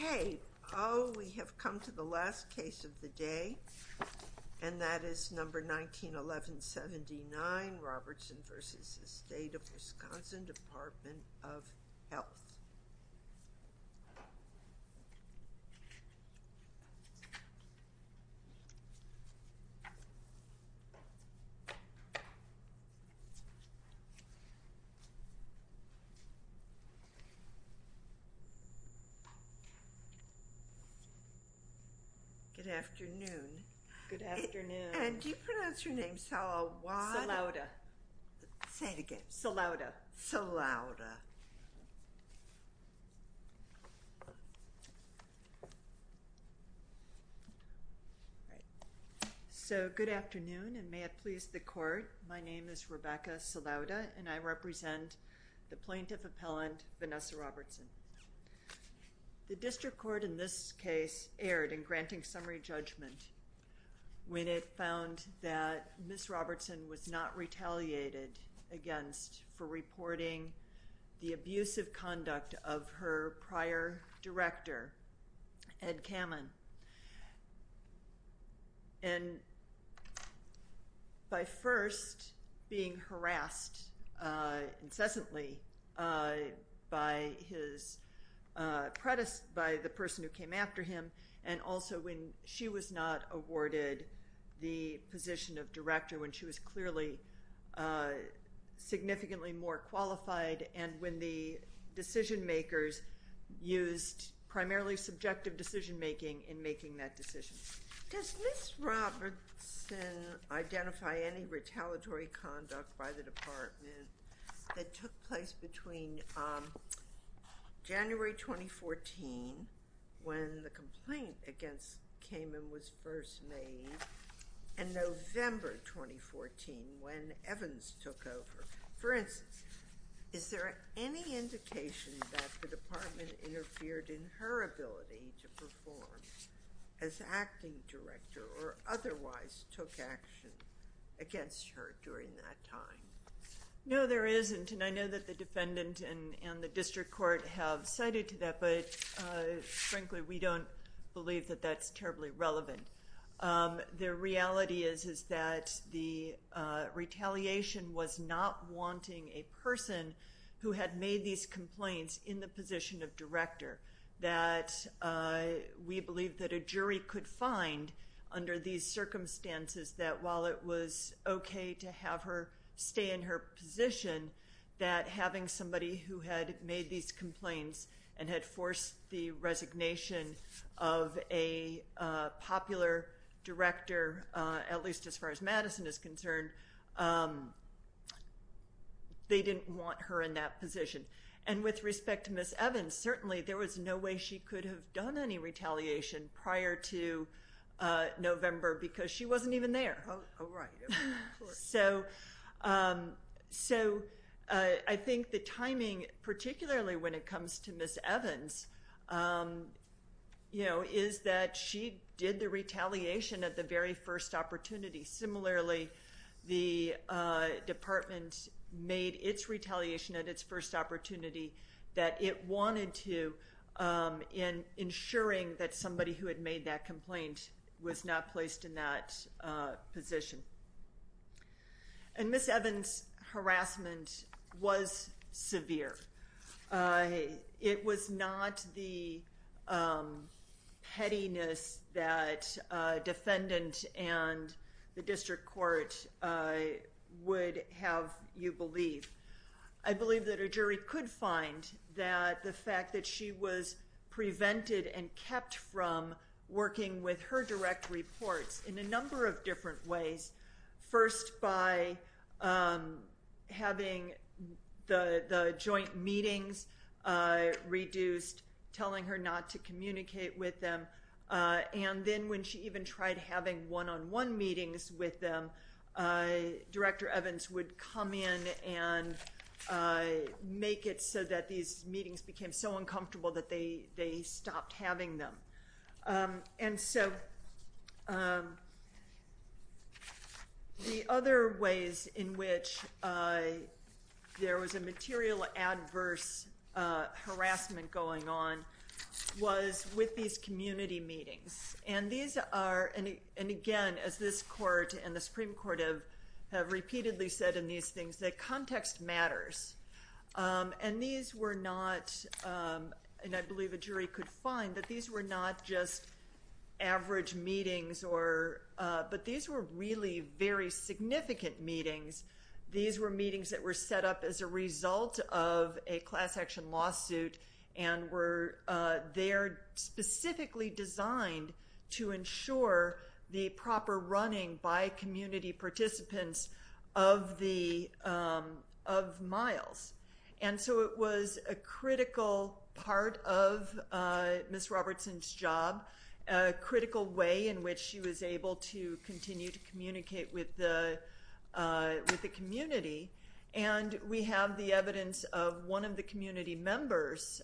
Okay. Oh, we have come to the last case of the day, and that is number 191179, Robertson v. State of Wisconsin Department of Health. Good afternoon. Good afternoon. And do you pronounce your name Sal-a-wa-da? Sal-a-da. Say it again. Sal-a-da. Sal-a-da. So good afternoon, and may it please the Court, my name is Rebecca Sal-a-da, and I represent the plaintiff appellant, Vanessa Robertson. The district court in this case erred in granting summary judgment when it found that Ms. Robertson was not retaliated against for reporting the abusive conduct of her prior director, Ed Kamen. And by first being harassed incessantly by the person who came after him, and also when she was not awarded the position of director when she was clearly significantly more qualified, and when the decision makers used primarily subjective decision making in making that decision. Does Ms. Robertson identify any retaliatory conduct by the department that took place between January 2014, when the complaint against Kamen was first made, and November 2014, when Evans took over? For instance, is there any indication that the department interfered in her ability to perform as acting director, or otherwise took action against her during that time? No, there isn't, and I know that the defendant and the district court have cited to that, but frankly, we don't believe that that's terribly relevant. The reality is that the retaliation was not wanting a person who had made these complaints in the position of director, that we believe that a jury could find under these circumstances, that while it was okay to have her stay in her position, that having somebody who had made these complaints and had forced the resignation of a popular director, at least as far as Madison is concerned, they didn't want her in that position. With respect to Ms. Evans, certainly there was no way she could have done any retaliation prior to November, because she wasn't even there. I think the timing, particularly when it comes to Ms. Evans, is that she did the retaliation at the very first opportunity. Similarly, the department made its retaliation at its first opportunity, that it wanted to, in ensuring that somebody who had made that complaint was not placed in that position. Ms. Evans' harassment was severe. It was not the pettiness that a defendant and the district court would have you believe. I believe that it was a jury could find that the fact that she was prevented and kept from working with her direct reports in a number of different ways, first by having the joint meetings reduced, telling her not to communicate with them, and then when she even tried having one-on-one meetings with them, Director Evans would come in and make it so that these meetings became so uncomfortable that they stopped having them. The other ways in which there was a material adverse harassment going on was with these community meetings. Again, as this court has repeatedly said, context matters. I believe a jury could find that these were not just average meetings, but these were really very significant meetings. These were meetings that were set up as a result of a class action lawsuit. They are specifically designed to ensure the proper running by community participants of Miles. It was a critical part of Ms. Robertson's job, a critical way in which she was able to continue to communicate with the community. We have the evidence of one of the community members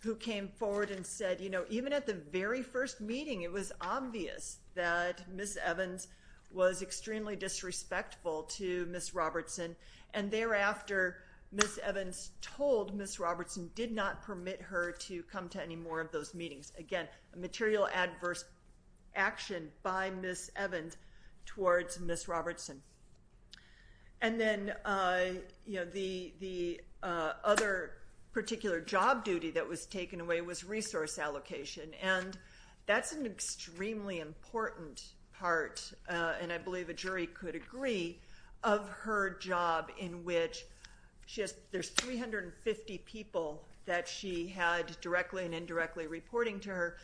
who came forward and said, even at the very first meeting, it was obvious that Ms. Evans was extremely disrespectful to Ms. Robertson, and thereafter, Ms. Evans told Ms. Robertson did not permit her to come to any more of those meetings. Again, a material adverse action by Ms. Evans towards Ms. Robertson. And then the other particular job duty that was taken away was resource allocation, and that's an extremely important part, and I believe a jury could agree, of her job in which there's 350 people that she had directly and indirectly reporting to her,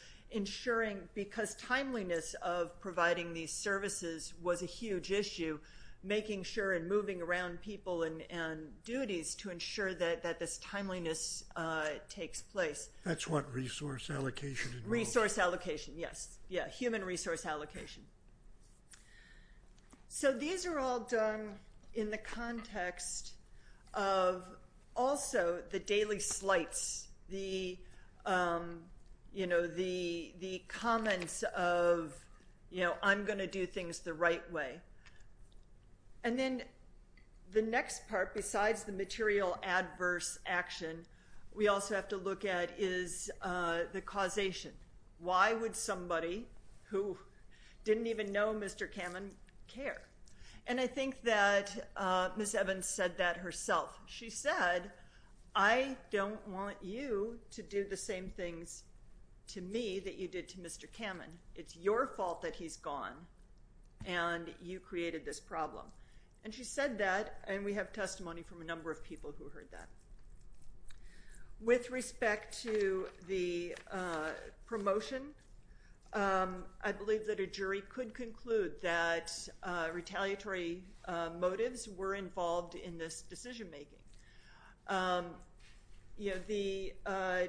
because timeliness of providing these services was a huge issue, making sure and moving around people and duties to ensure that this timeliness takes place. That's what resource allocation involves. Resource allocation, yes. Human resource allocation. So these are all done in the context of also the daily slights, the comments of I'm going to do things the right way. And then the next part, besides the material adverse action, we also have to look at is the causation. Why would somebody who didn't even know Mr. Kamen care? And I think that Ms. Evans said that herself. She said, I don't want you to do the same things to me that you did to Mr. Kamen. It's your fault that he's gone, and you created this problem. And she said that, and we have testimony from a number of people who heard that. With respect to the promotion, I believe that a jury could conclude that retaliatory motives were involved in this decision making. The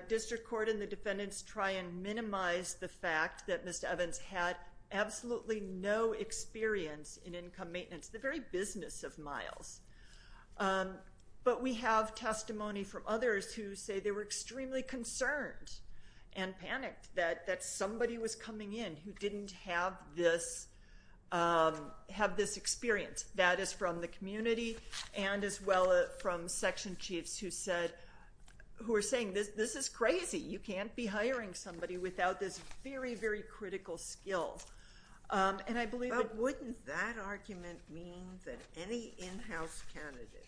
district court and the defendants try and minimize the fact that Ms. Evans had absolutely no experience in income maintenance, the very business of miles. But we have testimony from others who say they were extremely concerned and panicked that somebody was coming in who didn't have this experience. That is from the community and as well from section chiefs who said, who were saying, this is crazy. You can't be hiring somebody without this very, very critical skill. But wouldn't that argument mean that any in-house candidate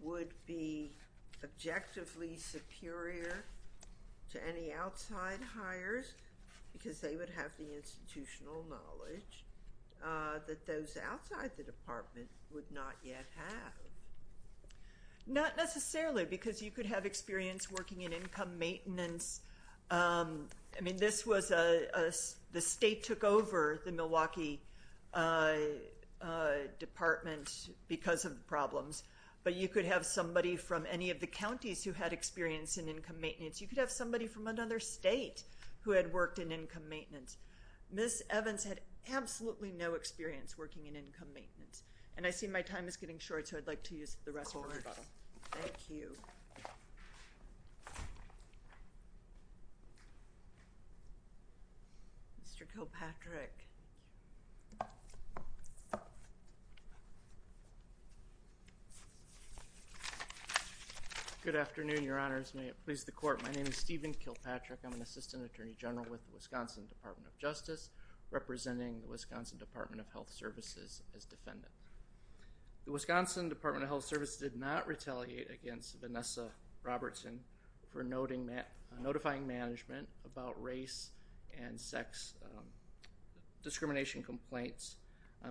would be objectively superior to any outside hires because they would have the institutional knowledge that those outside the department would not yet have? Not necessarily, because you could have experience working in income maintenance. I mean, this was a, the state took over the Milwaukee department because of the problems, but you could have somebody from any of the counties who had experience in income maintenance. You could have somebody from another state who had worked in income maintenance. Ms. Evans had absolutely no experience working in income maintenance. And I see my time is getting short, so I'd like to use the rest of the words. Thank you. Mr. Kilpatrick. Good afternoon, your honors. May it please the court. My name is Stephen Kilpatrick. I'm an assistant attorney general with the Wisconsin Department of Justice, representing the Wisconsin Department of Health Services as defendant. The Wisconsin Department of Health Service did not retaliate against Vanessa Robertson for notifying management about race and sex discrimination complaints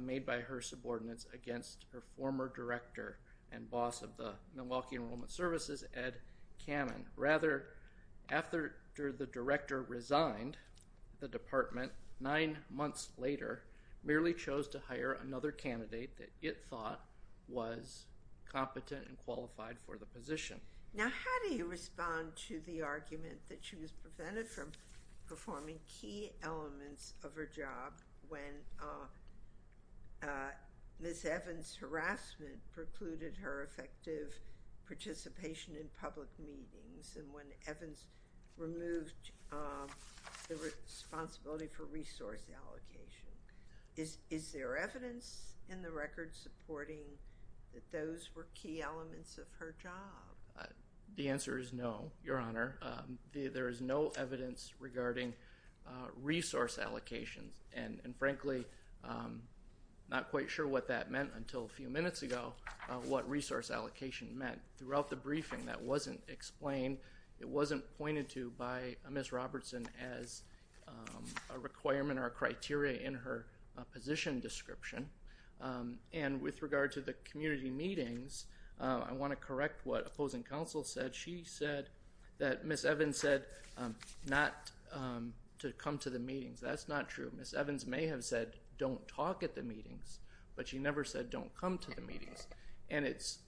made by her subordinates against her former director and boss of the Milwaukee Enrollment Services, Ed Cannon. Rather, after the director resigned the department nine months later, merely chose to hire another candidate that it thought was competent and qualified for the position. Now how do you respond to the argument that she was prevented from performing key elements of her job when Ms. Evans' harassment precluded her effective participation in public meetings and when Evans removed the responsibility for resource allocation? Is there evidence in the record supporting that those were key elements of her job? The answer is no, your honor. There is no evidence regarding resource allocations. And frankly, I'm not quite sure what that meant until a few minutes ago, what resource allocation meant. Throughout the briefing that wasn't explained, it wasn't pointed to by Ms. Robertson as a requirement or a criteria in her position description. And with regard to the community meetings, I want to correct what opposing counsel said. She said that Ms. Evans said not to come to the meetings. That's not true. Ms. Evans may have said don't talk at the meetings, but she never said don't come to the meetings. And it's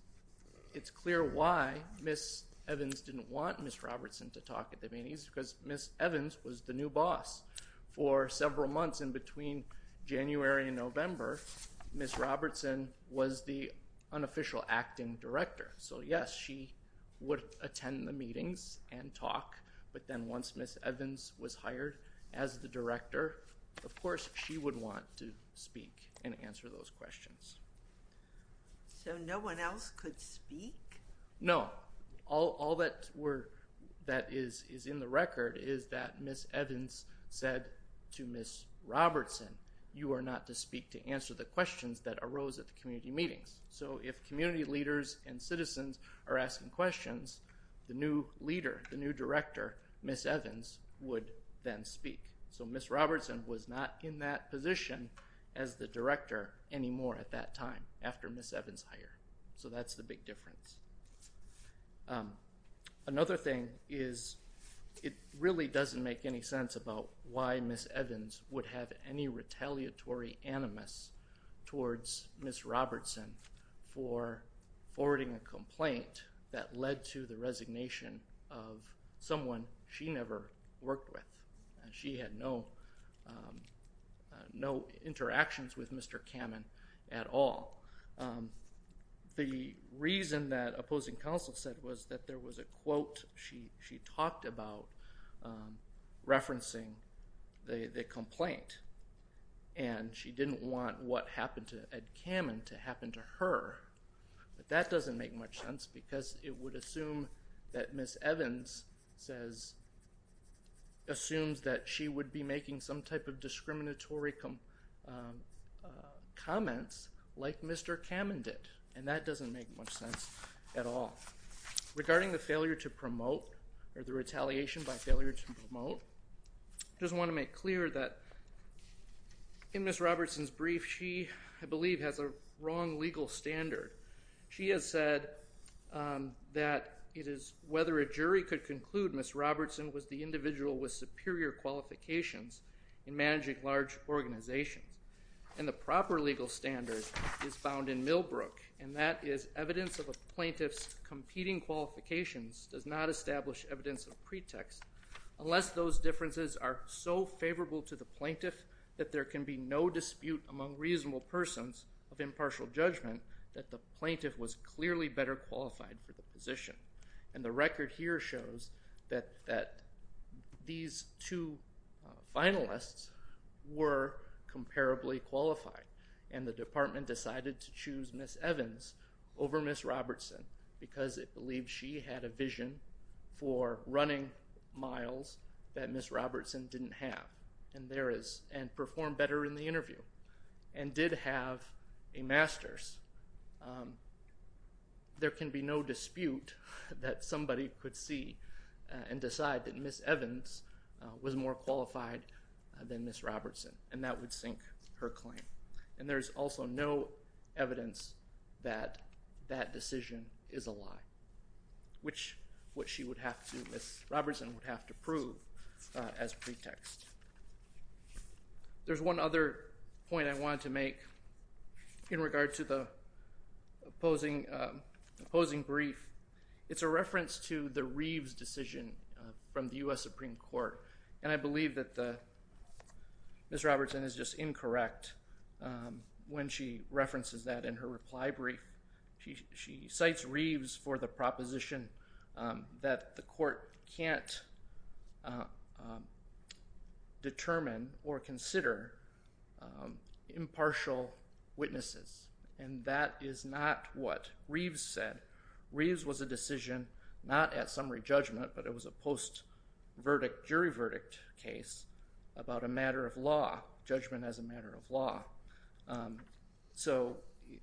clear why Ms. Evans didn't want Ms. Robertson to talk at the meetings, because Ms. Evans was the new boss. For several months in between January and November, Ms. Robertson was the unofficial acting director. So yes, she would attend the meetings and talk, but then once Ms. Evans was hired as the director, of course she would want to speak and answer those questions. So no one else could speak? No. All that is in the record is that Ms. Evans said to Ms. Robertson, you are not to speak to answer the questions that arose at the community meetings. So if community leaders and citizens are asking questions, the new leader, the new director, Ms. Evans, would then speak. So Ms. Robertson was not in that position as the director anymore at that time after Ms. Evans' hire. So that's the big difference. Another thing is it really doesn't make any sense about why Ms. Evans would have any retaliatory animus towards Ms. Robertson for forwarding a complaint that led to the resignation of someone she never worked with. She had no interactions with Mr. Kamen at all. The reason that opposing counsel said was that there was a quote she talked about referencing the complaint and she didn't want what happened to Ed Kamen to happen to her. But that doesn't make much sense because it would assume that Ms. Evans assumes that she would be making some type of discriminatory comments like Mr. Kamen did. And that doesn't make much sense at all. Regarding the failure to promote or the retaliation by failure to promote, I just want to make clear that in Ms. Robertson's brief, she, I believe, has a wrong legal standard. She has said that it is whether a jury could conclude Ms. Robertson was the individual with superior qualifications in managing large organizations. And the proper legal standard is found in Millbrook and that is evidence of a plaintiff's competing qualifications does not establish evidence of pretext unless those differences are so favorable to the plaintiff that there can be no dispute among reasonable persons of impartial judgment that the plaintiff was clearly better qualified for the position. And the record here shows that these two finalists were comparably qualified and the department decided to choose Ms. Evans over Ms. Robertson because it believed she had a vision for running miles that Ms. Robertson didn't have and performed better in the interview and did have a master's. There can be no dispute that somebody could see and decide that Ms. Evans was more qualified than Ms. Robertson and that would sink her claim. And there is also no evidence that that decision is a lie, which Ms. Robertson would have to prove as pretext. There's one other point I wanted to make in regard to the opposing brief. It's a reference to the Reeves decision from the U.S. Supreme Court and I believe that Ms. Robertson is just incorrect when she references that in her reply brief. She cites Reeves for the proposition that the court can't determine or consider impartial witnesses and that is not what Reeves said. Reeves was a decision not at summary judgment but it was a post verdict, jury verdict case about a matter of law, judgment as a matter of law. So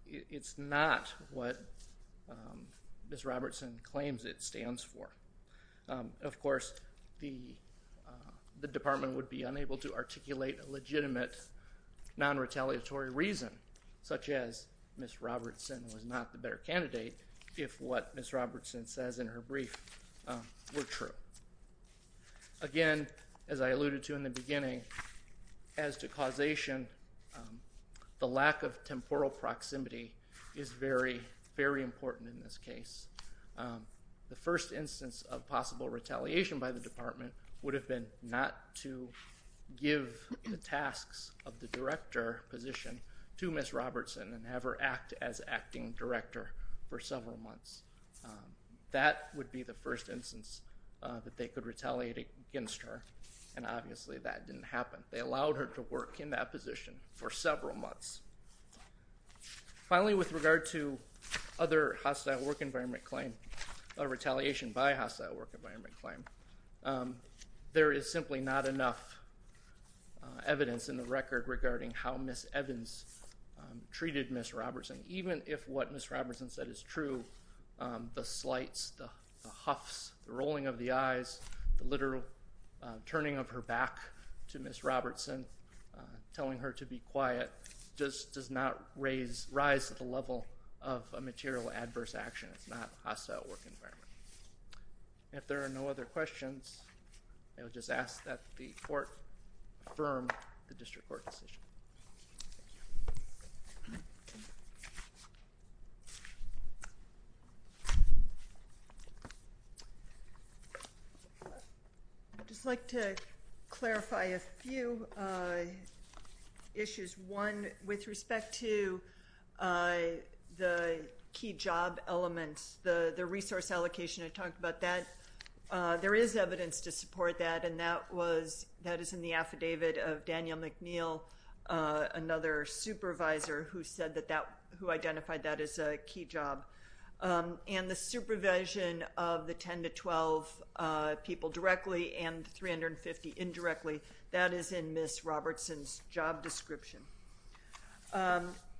it's not what Ms. Robertson claims it stands for. Of course the department would be unable to articulate a legitimate non-retaliatory reason such as Ms. Robertson was not the better candidate if what Ms. Robertson says in her brief were true. Again, as I alluded to in the beginning, as to causation, the lack of temporal proximity is very, very important in this case. The first instance of possible retaliation by the department would have been not to give the tasks of the director position to Ms. Robertson. They could retaliate against her and obviously that didn't happen. They allowed her to work in that position for several months. Finally, with regard to other hostile work environment claim, retaliation by hostile work environment claim, there is simply not enough evidence in the record regarding how Ms. Evans treated Ms. Robertson. Even if what Ms. Robertson said was true, the eyes, the literal turning of her back to Ms. Robertson, telling her to be quiet, just does not raise, rise to the level of a material adverse action. It's not hostile work environment. If there are no other questions, I would just ask that the court affirm the district court decision. I'd just like to clarify a few issues. One, with respect to the key job elements, the resource allocation, I talked about that. There is evidence to support that and that is in the affidavit of Daniel McNeil, another supervisor who said that that, who identified that as a key job. The supervision of the 10 to 12 people directly and the 350 indirectly, that is in Ms. Robertson's job description.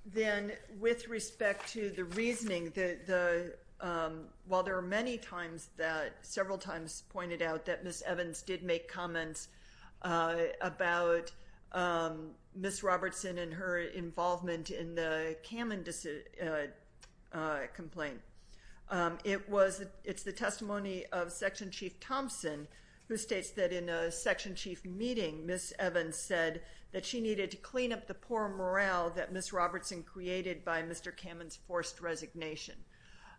Then, with respect to the reasoning, while there are many times that, several times pointed out that Ms. Evans did make comments about Ms. Robertson and her involvement in the Kamen complaint. It's the testimony of Section Chief Thompson, who states that in a Section Chief meeting, Ms. Evans said that she needed to clean up the poor morale that Ms. Robertson created by Mr. Kamen's forced resignation.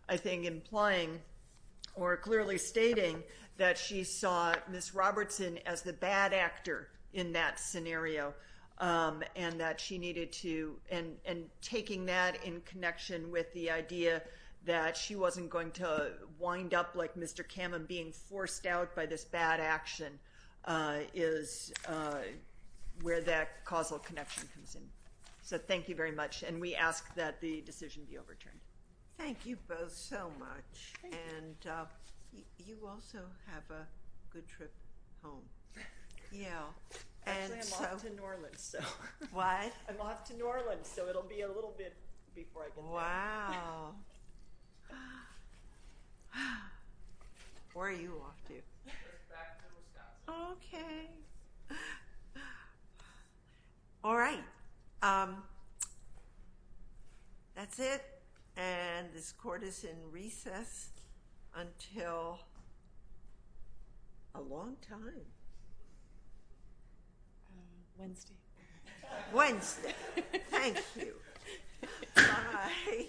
I think implying or clearly stating that she saw Ms. Robertson as the bad actor in that scenario, and that she needed to, and taking that in connection with the idea that she wasn't going to wind up like Mr. Kamen, being forced out by this bad action, is where that causal connection comes in. Thank you very much. We ask that the decision be overturned. Thank you both so much. You also have a good trip home. Actually, I'm off to New Orleans. What? I'm off to New Orleans, so it'll be a little bit before I get there. Wow. Where are you off to? Just back to Wisconsin. Okay. All right. That's it, and this court is in recess until a long time. Wednesday. Wednesday. Thank you. Bye. Thank you.